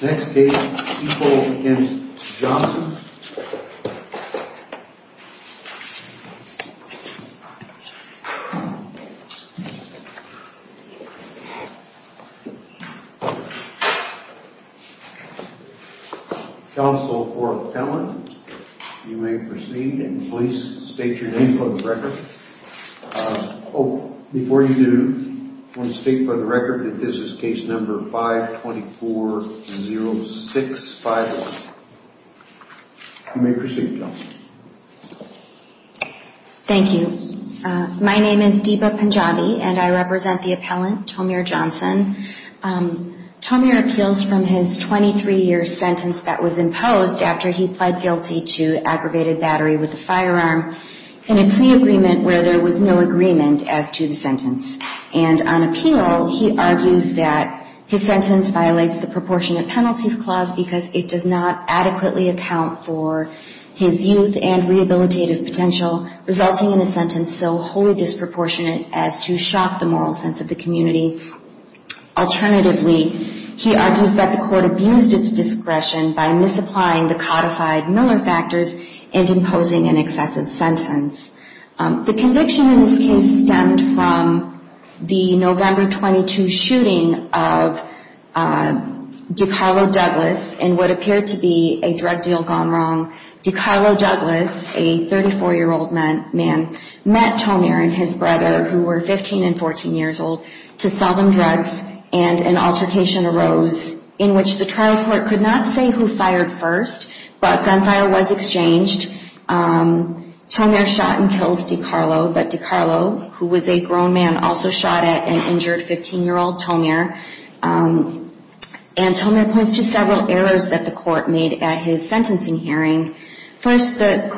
Next case, E. Paul M. Johnson Counsel for Appellant You may proceed and please state your name for the record Oh, before you do, I want to state for the record that this is case number 524-0651 You may proceed, Johnson Thank you. My name is Deepa Punjabi and I represent the appellant, Tomir Johnson Tomir appeals from his 23-year sentence that was imposed after he pled guilty to aggravated battery with a firearm in a plea agreement where there was no agreement as to the sentence And on appeal, he argues that his sentence violates the proportionate penalties clause because it does not adequately account for his youth and rehabilitative potential resulting in a sentence so wholly disproportionate as to shock the moral sense of the community Alternatively, he argues that the court abused its discretion by misapplying the codified Miller factors and imposing an excessive sentence The conviction in this case stemmed from the November 22 shooting of DiCarlo Douglas in what appeared to be a drug deal gone wrong DiCarlo Douglas, a 34-year-old man, met Tomir and his brother who were 15 and 14 years old to sell them drugs and an altercation arose in which the trial court could not say who fired first but gunfire was exchanged Tomir shot and killed DiCarlo, but DiCarlo, who was a grown man, also shot at an injured 15-year-old Tomir And Tomir points to several errors that the court made at his sentencing hearing First and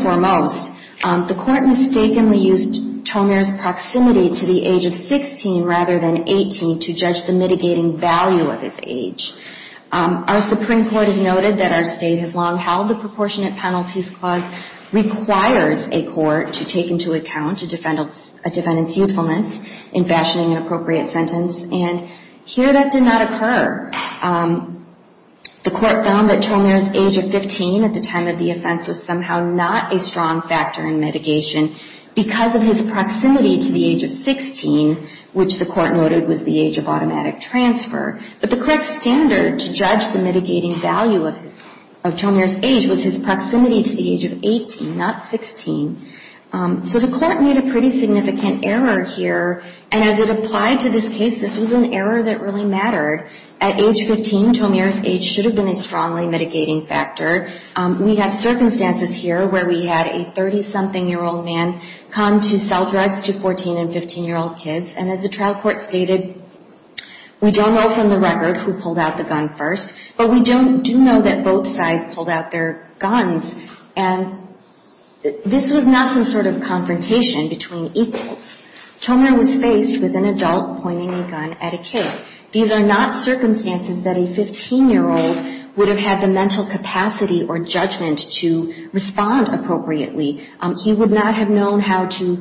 foremost, the court mistakenly used Tomir's proximity to the age of 16 rather than 18 to judge the mitigating value of his age Our Supreme Court has noted that our state has long held the Proportionate Penalties Clause requires a court to take into account a defendant's youthfulness in fashioning an appropriate sentence and here that did not occur The court found that Tomir's age of 15 at the time of the offense was somehow not a strong factor in mitigation because of his proximity to the age of 16, which the court noted was the age of automatic transfer But the court's standard to judge the mitigating value of Tomir's age was his proximity to the age of 18, not 16 So the court made a pretty significant error here and as it applied to this case, this was an error that really mattered At age 15, Tomir's age should have been a strongly mitigating factor We have circumstances here where we had a 30-something-year-old man come to sell drugs to 14- and 15-year-old kids and as the trial court stated, we don't know from the record who pulled out the gun first but we do know that both sides pulled out their guns and this was not some sort of confrontation between equals Tomir was faced with an adult pointing a gun at a kid These are not circumstances that a 15-year-old would have had the mental capacity or judgment to respond appropriately He would not have known how to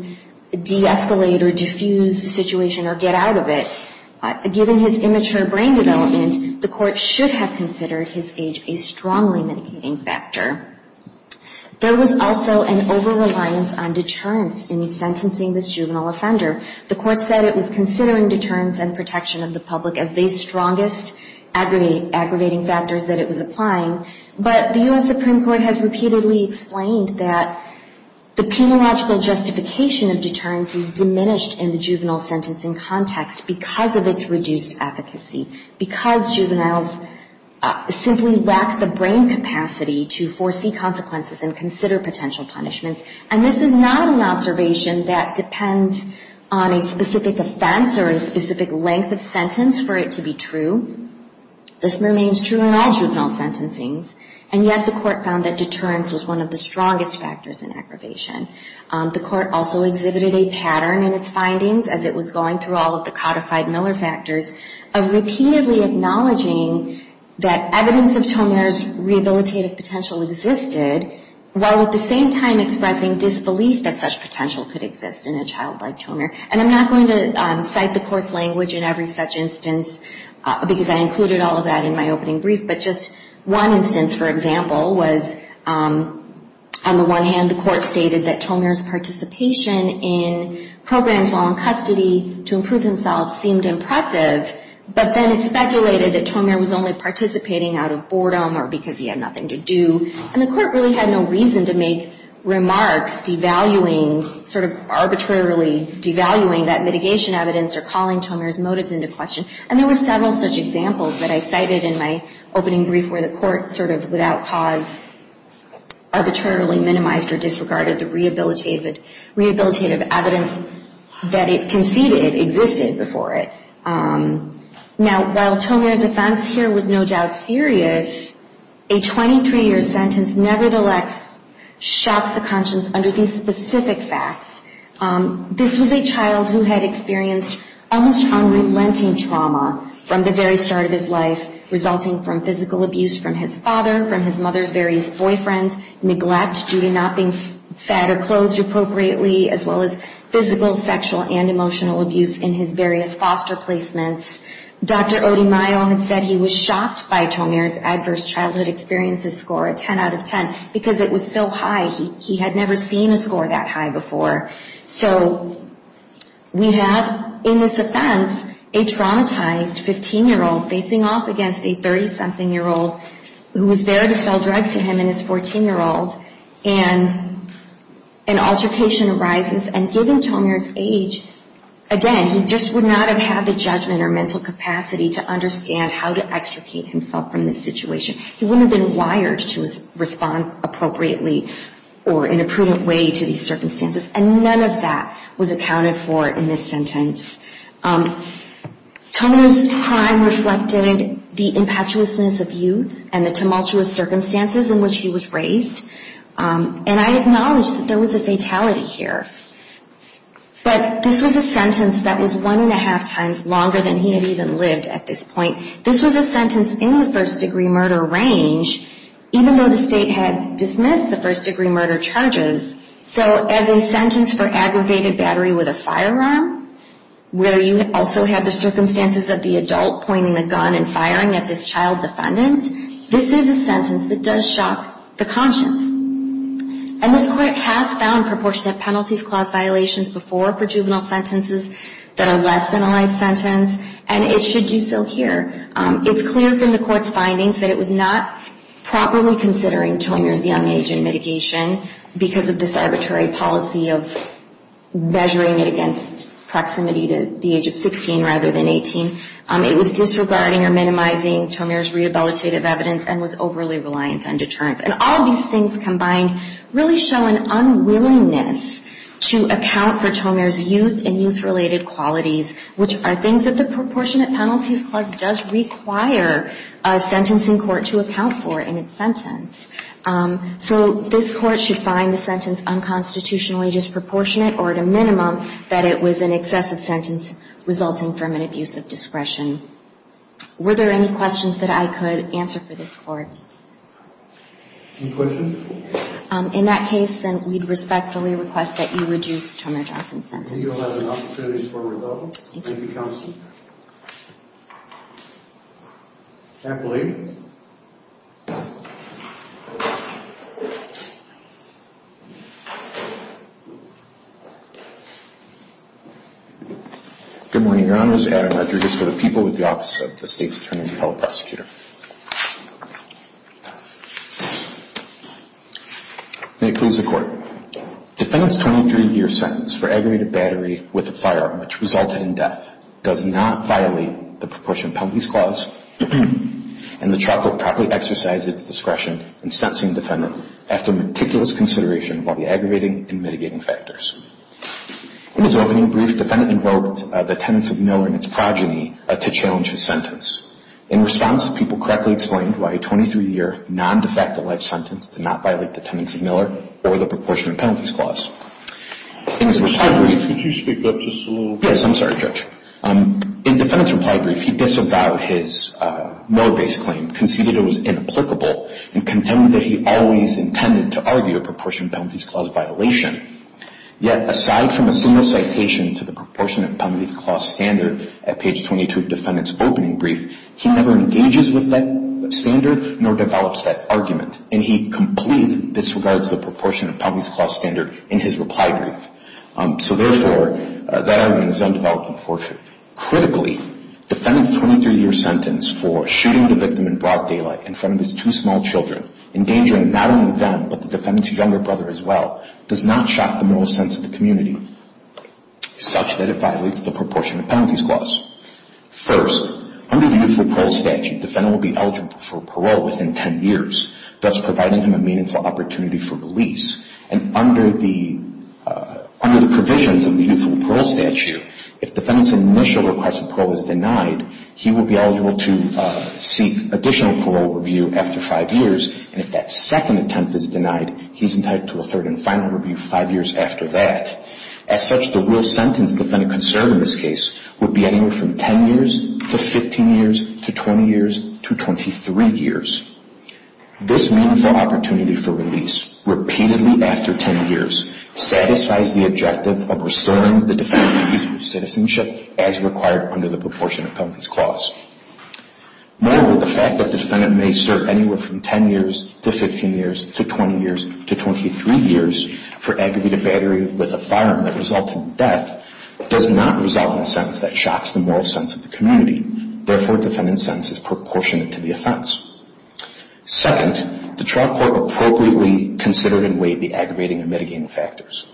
de-escalate or defuse the situation or get out of it Given his immature brain development, the court should have considered his age a strongly mitigating factor There was also an over-reliance on deterrence in sentencing this juvenile offender The court said it was considering deterrence and protection of the public as the strongest aggravating factors that it was applying But the U.S. Supreme Court has repeatedly explained that the penological justification of deterrence is diminished in the juvenile sentencing context because of its reduced efficacy because juveniles simply lack the brain capacity to foresee consequences and consider potential punishment and this is not an observation that depends on a specific offense or a specific length of sentence for it to be true This remains true in all juvenile sentencing and yet the court found that deterrence was one of the strongest factors in aggravation The court also exhibited a pattern in its findings as it was going through all of the codified Miller factors of repeatedly acknowledging that evidence of Tomir's rehabilitative potential existed while at the same time expressing disbelief that such potential could exist in a child like Tomir And I'm not going to cite the court's language in every such instance because I included all of that in my opening brief but just one instance, for example, was on the one hand the court stated that Tomir's participation in programs while in custody to improve himself seemed impressive but then it speculated that Tomir was only participating out of boredom or because he had nothing to do with evaluating that mitigation evidence or calling Tomir's motives into question and there were several such examples that I cited in my opening brief where the court sort of without cause arbitrarily minimized or disregarded the rehabilitative evidence that it conceded existed before it Now, while Tomir's offense here was no doubt serious, a 23-year sentence never the less shocks the conscience under these specific facts This was a child who had experienced almost unrelenting trauma from the very start of his life resulting from physical abuse from his father, from his mother's various boyfriends, neglect due to not being fed or clothed appropriately as well as physical, sexual, and emotional abuse in his various foster placements Dr. Odimayo had said he was shocked by Tomir's adverse childhood experiences score, a 10 out of 10 because it was so high, he had never seen a score that high before So we have in this offense a traumatized 15-year-old facing off against a 30-something-year-old who was there to sell drugs to him and his 14-year-old and an altercation arises and given Tomir's age, again, he just would not have had the judgment or mental capacity to understand how to extricate himself from this situation He wouldn't have been wired to respond appropriately or in a prudent way to these circumstances and none of that was accounted for in this sentence Tomir's crime reflected the impetuousness of youth and the tumultuous circumstances in which he was raised and I acknowledge that there was a fatality here but this was a sentence that was one and a half times longer than he had even lived at this point This was a sentence in the first-degree murder range even though the state had dismissed the first-degree murder charges so as a sentence for aggravated battery with a firearm where you also have the circumstances of the adult pointing the gun and firing at this child defendant this is a sentence that does shock the conscience and this court has found proportionate penalties clause violations before for juvenile sentences that are less than a life sentence and it should do so here It's clear from the court's findings that it was not properly considering Tomir's young age in mitigation because of this arbitrary policy of measuring it against proximity to the age of 16 rather than 18 It was disregarding or minimizing Tomir's rehabilitative evidence and was overly reliant on deterrence and all of these things combined really show an unwillingness to account for Tomir's youth and youth-related qualities which are things that the proportionate penalties clause does require a sentencing court to account for in its sentence so this court should find the sentence unconstitutionally disproportionate or at a minimum that it was an excessive sentence resulting from an abuse of discretion Were there any questions that I could answer for this court? Any questions? In that case then we'd respectfully request that you reduce Tomir Johnson's sentence You'll have an opportunity for rebuttal Thank you Thank you counsel Kathleen Good morning your honors, Adam Rodriguez for the people with the office of the state's attorney's appellate prosecutor May it please the court Defendant's 23-year sentence for aggravated battery with a firearm which resulted in death does not violate the proportionate penalties clause and the trial court has ruled that Tomir Johnson's sentence is unconstitutional The trial court properly exercised its discretion in sentencing the defendant after meticulous consideration of all the aggravating and mitigating factors In his opening brief, defendant invoked the tenets of Miller and its progeny to challenge his sentence In response, the people correctly explained why a 23-year non-defective life sentence did not violate the tenets of Miller or the proportionate penalties clause In his reply brief Could you speak up just a little bit? Yes, I'm sorry judge In defendant's reply brief, he disavowed his Miller-based claim conceded it was inapplicable and contended that he always intended to argue a proportionate penalties clause violation Yet aside from a single citation to the proportionate penalties clause standard at page 22 of defendant's opening brief he never engages with that standard nor develops that argument and he completely disregards the proportionate penalties clause standard in his reply brief So therefore, that argument is undeveloped unfortunately Critically, defendant's 23-year sentence for shooting the victim in broad daylight in front of his two small children endangering not only them but the defendant's younger brother as well does not shock the moral sense of the community such that it violates the proportionate penalties clause First, under the youth parole statute, defendant will be eligible for parole within 10 years thus providing him a meaningful opportunity for release and under the provisions of the youth parole statute if defendant's initial request for parole is denied he will be eligible to seek additional parole review after five years and if that second attempt is denied he's entitled to a third and final review five years after that As such, the real sentence defendant could serve in this case would be anywhere from 10 years to 15 years to 20 years to 23 years This meaningful opportunity for release repeatedly after 10 years satisfies the objective of restoring the defendant's youthful citizenship as required under the proportionate penalties clause Moreover, the fact that defendant may serve anywhere from 10 years to 15 years to 20 years to 23 years for aggravated battery with a firearm that resulted in death does not result in a sentence that shocks the moral sense of the community Therefore, defendant's sentence is proportionate to the offense Second, the trial court appropriately considered and weighed the aggravating and mitigating factors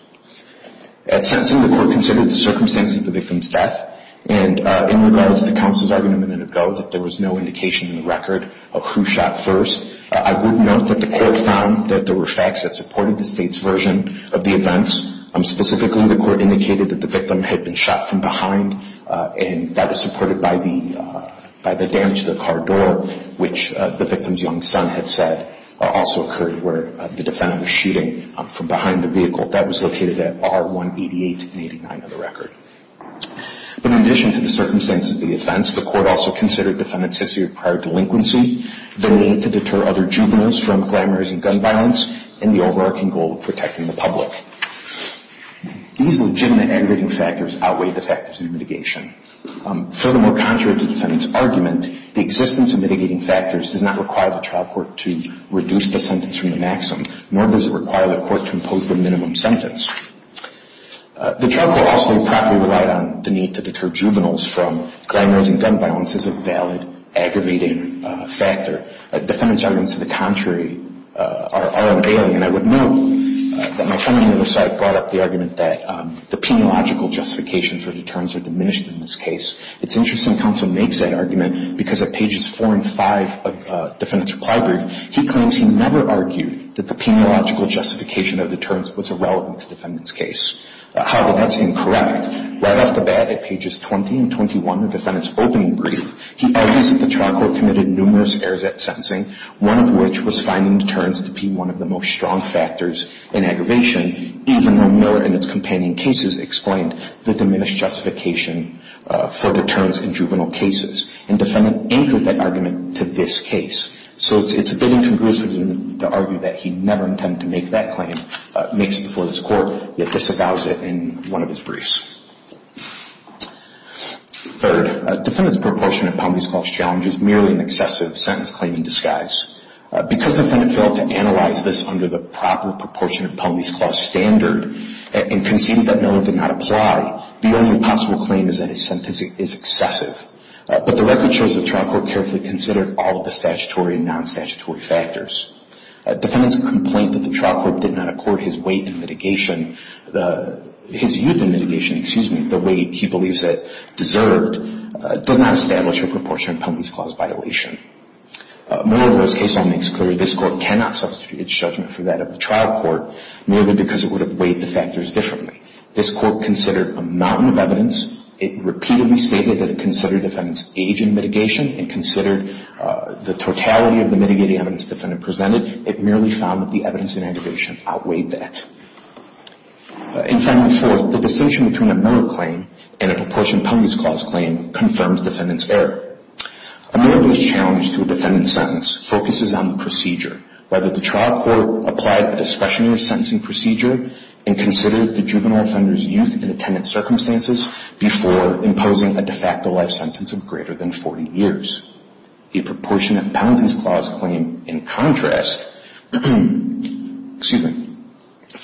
At sentencing, the court considered the circumstances of the victim's death and in regards to counsel's argument a minute ago that there was no indication in the record of who shot first I would note that the court found that there were facts that supported the state's version of the events Specifically, the court indicated that the victim had been shot from behind and that was supported by the damage to the car door which the victim's young son had said also occurred where the defendant was shooting from behind the vehicle That was located at R188 and R189 of the record But in addition to the circumstances of the offense the court also considered defendant's history of prior delinquency the need to deter other juveniles from glamorizing gun violence and the overarching goal of protecting the public These legitimate aggravating factors outweigh the factors of mitigation Furthermore, contrary to defendant's argument the existence of mitigating factors does not require the trial court to reduce the sentence from the maximum nor does it require the court to impose the minimum sentence The trial court also properly relied on the need to deter juveniles from glamorizing gun violence as a valid aggravating factor Defendant's arguments to the contrary are unalien I would note that my friend on the other side brought up the argument that the peniological justification for deterrence are diminished in this case It's interesting counsel makes that argument because at pages 4 and 5 of defendant's reply brief he claims he never argued that the peniological justification of deterrence was irrelevant to defendant's case However, that's incorrect Right off the bat at pages 20 and 21 of defendant's opening brief he argues that the trial court committed numerous errors at sentencing one of which was finding deterrence to be one of the most strong factors in aggravation even though Miller in its companion cases explained the diminished justification for deterrence in juvenile cases and defendant anchored that argument to this case So it's a bit incongruous to argue that he never intended to make that claim makes it before this court yet disavows it in one of his briefs Third, defendant's proportionate penalties clause challenge is merely an excessive sentence claim in disguise because defendant failed to analyze this under the proper proportionate penalties clause standard and conceded that Miller did not apply the only possible claim is that his sentence is excessive but the record shows the trial court carefully considered all of the statutory and non-statutory factors Defendant's complaint that the trial court did not accord his weight in mitigation his youth in mitigation, excuse me, the weight he believes it deserved does not establish a proportionate penalties clause violation Miller, though, his case law makes clear this court cannot substitute its judgment for that of the trial court merely because it would have weighed the factors differently This court considered a mountain of evidence it repeatedly stated that it considered defendant's age in mitigation and considered the totality of the mitigating evidence defendant presented it merely found that the evidence in aggravation outweighed that And finally, fourth, the distinction between a Miller claim and a proportionate penalties clause claim confirms defendant's error A Miller youth challenge to a defendant's sentence focuses on the procedure whether the trial court applied a discretionary sentencing procedure and considered the juvenile offender's youth in attendant circumstances before imposing a de facto life sentence of greater than 40 years A proportionate penalties clause claim, in contrast,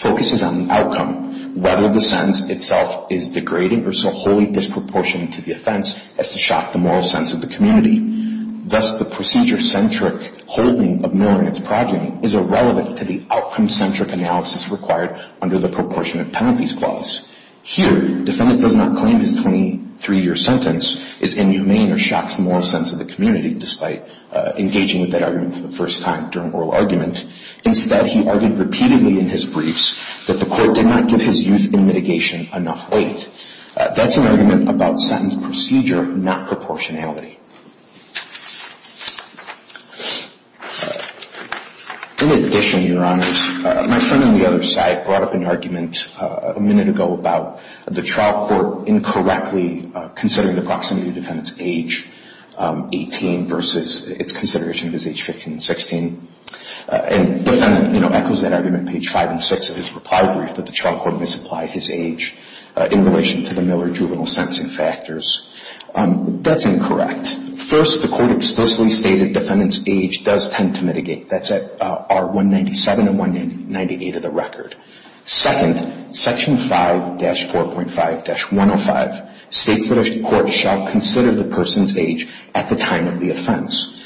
focuses on the outcome whether the sentence itself is degrading or so wholly disproportionate to the offense as to shock the moral sense of the community Thus, the procedure-centric holding of Miller in its progeny is irrelevant to the outcome-centric analysis required under the proportionate penalties clause Here, defendant does not claim his 23-year sentence is inhumane or shocks the moral sense of the community despite engaging with that argument for the first time during oral argument Instead, he argued repeatedly in his briefs that the court did not give his youth in mitigation enough weight That's an argument about sentence procedure, not proportionality In addition, Your Honors, my friend on the other side brought up an argument a minute ago about the trial court incorrectly considering the proximity of defendant's age 18 versus its consideration of his age 15 and 16 And the defendant echoes that argument on page 5 and 6 of his reply brief that the trial court misapplied his age in relation to the Miller juvenile sentencing factors That's incorrect First, the court explicitly stated defendant's age does tend to mitigate That's at R197 and R198 of the record Second, section 5-4.5-105 states that the court shall consider the person's age at the time of the offense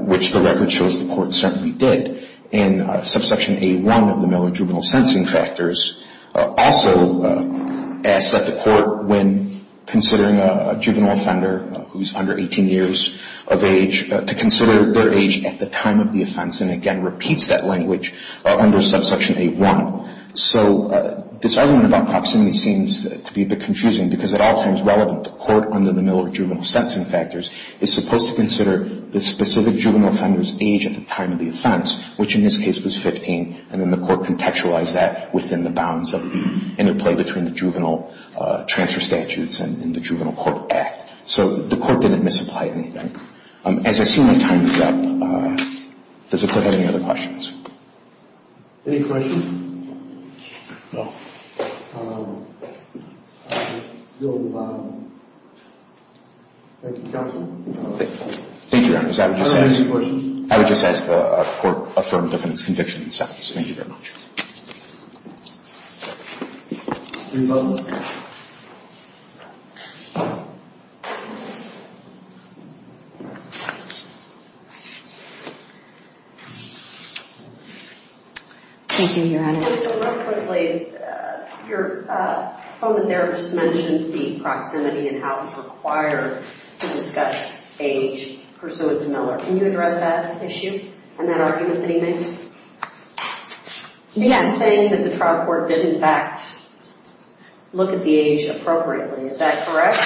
which the record shows the court certainly did And subsection A1 of the Miller juvenile sentencing factors also asks that the court, when considering a juvenile offender who's under 18 years of age to consider their age at the time of the offense and again repeats that language under subsection A1 So this argument about proximity seems to be a bit confusing because at all times relevant, the court under the Miller juvenile sentencing factors is supposed to consider the specific juvenile offender's age at the time of the offense which in this case was 15 and then the court contextualized that within the bounds of the interplay between the juvenile transfer statutes and the juvenile court act So the court didn't misapply anything As I see my time is up, does the court have any other questions? Any questions? Thank you, counsel Thank you, Your Honor, because I would just ask Are there any questions? I would just ask the court affirm defendant's conviction in seconds Thank you very much Thank you Thank you, Your Honor So real quickly, your comment there just mentioned the proximity and how it's required to discuss age pursuant to Miller Can you address that issue and that argument that he made? Yes He's saying that the trial court did in fact look at the age appropriately Is that correct?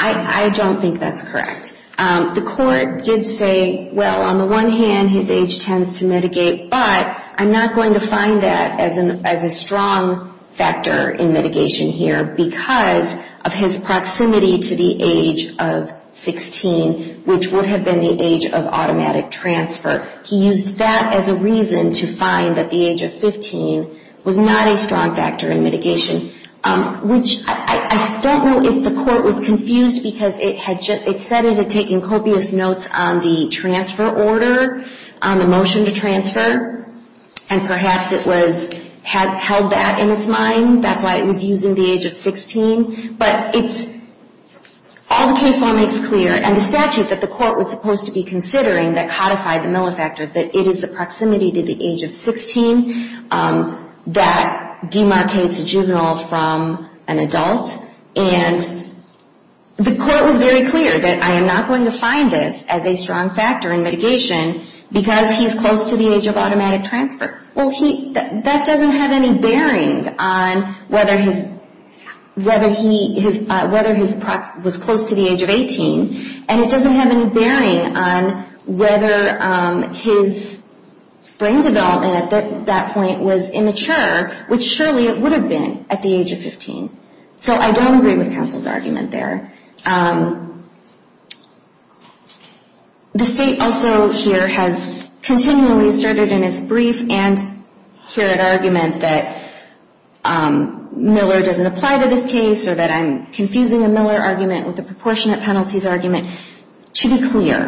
I don't think that's correct The court did say, well, on the one hand, his age tends to mitigate but I'm not going to find that as a strong factor in mitigation here because of his proximity to the age of 16 which would have been the age of automatic transfer He used that as a reason to find that the age of 15 was not a strong factor in mitigation which I don't know if the court was confused because it said it had taken copious notes on the transfer order on the motion to transfer and perhaps it had held that in its mind That's why it was using the age of 16 But all the case law makes clear and the statute that the court was supposed to be considering that codified the Miller factor that it is the proximity to the age of 16 that demarcates a juvenile from an adult and the court was very clear that I am not going to find this as a strong factor in mitigation because he's close to the age of automatic transfer That doesn't have any bearing on whether he was close to the age of 18 and it doesn't have any bearing on whether his brain development at that point was immature which surely it would have been at the age of 15 So I don't agree with counsel's argument there The state also here has continually asserted in its brief and here an argument that Miller doesn't apply to this case or that I'm confusing a Miller argument with a proportionate penalties argument To be clear,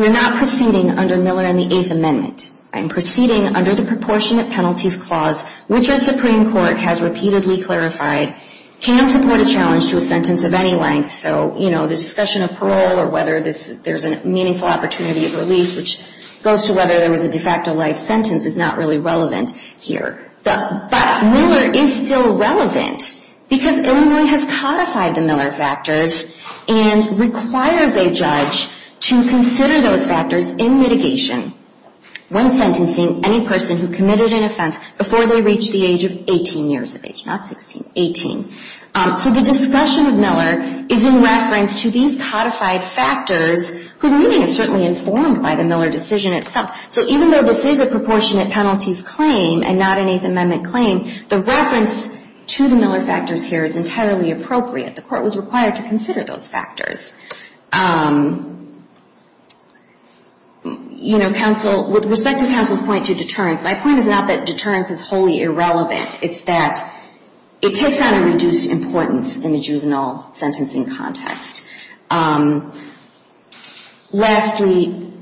we're not proceeding under Miller and the Eighth Amendment I'm proceeding under the proportionate penalties clause which the Supreme Court has repeatedly clarified can support a challenge to a sentence of any length so the discussion of parole or whether there's a meaningful opportunity of release which goes to whether there was a de facto life sentence is not really relevant here But Miller is still relevant because Illinois has codified the Miller factors and requires a judge to consider those factors in mitigation when sentencing any person who committed an offense before they reach the age of 18 years of age not 16, 18 So the discussion of Miller is in reference to these codified factors whose meaning is certainly informed by the Miller decision itself So even though this is a proportionate penalties claim and not an Eighth Amendment claim the reference to the Miller factors here is entirely appropriate The court was required to consider those factors With respect to counsel's point to deterrence my point is not that deterrence is wholly irrelevant It's that it takes on a reduced importance in the juvenile sentencing context Lastly,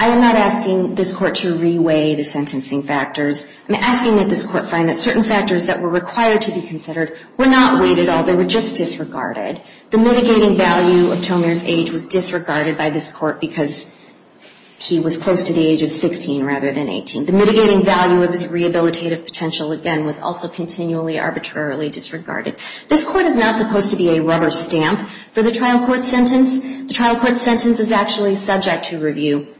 I am not asking this court to re-weigh the sentencing factors I'm asking that this court find that certain factors that were required to be considered were not weighed at all, they were just disregarded The mitigating value of Tomer's age was disregarded by this court because he was close to the age of 16 rather than 18 The mitigating value of his rehabilitative potential, again, was also continually arbitrarily disregarded This court is not supposed to be a rubber stamp for the trial court sentence The trial court sentence is actually subject to review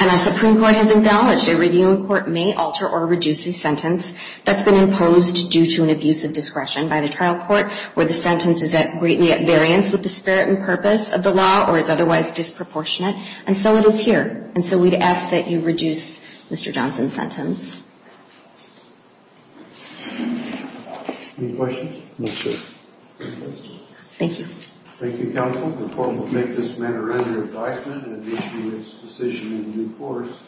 And as the Supreme Court has acknowledged a review in court may alter or reduce the sentence that's been imposed due to an abuse of discretion by the trial court where the sentence is greatly at variance with the spirit and purpose of the law or is otherwise disproportionate And so it is here And so we'd ask that you reduce Mr. Johnson's sentence Any questions? No, sir Any questions? Thank you Thank you, counsel The court will make this matter under advisement and issue its decision in due course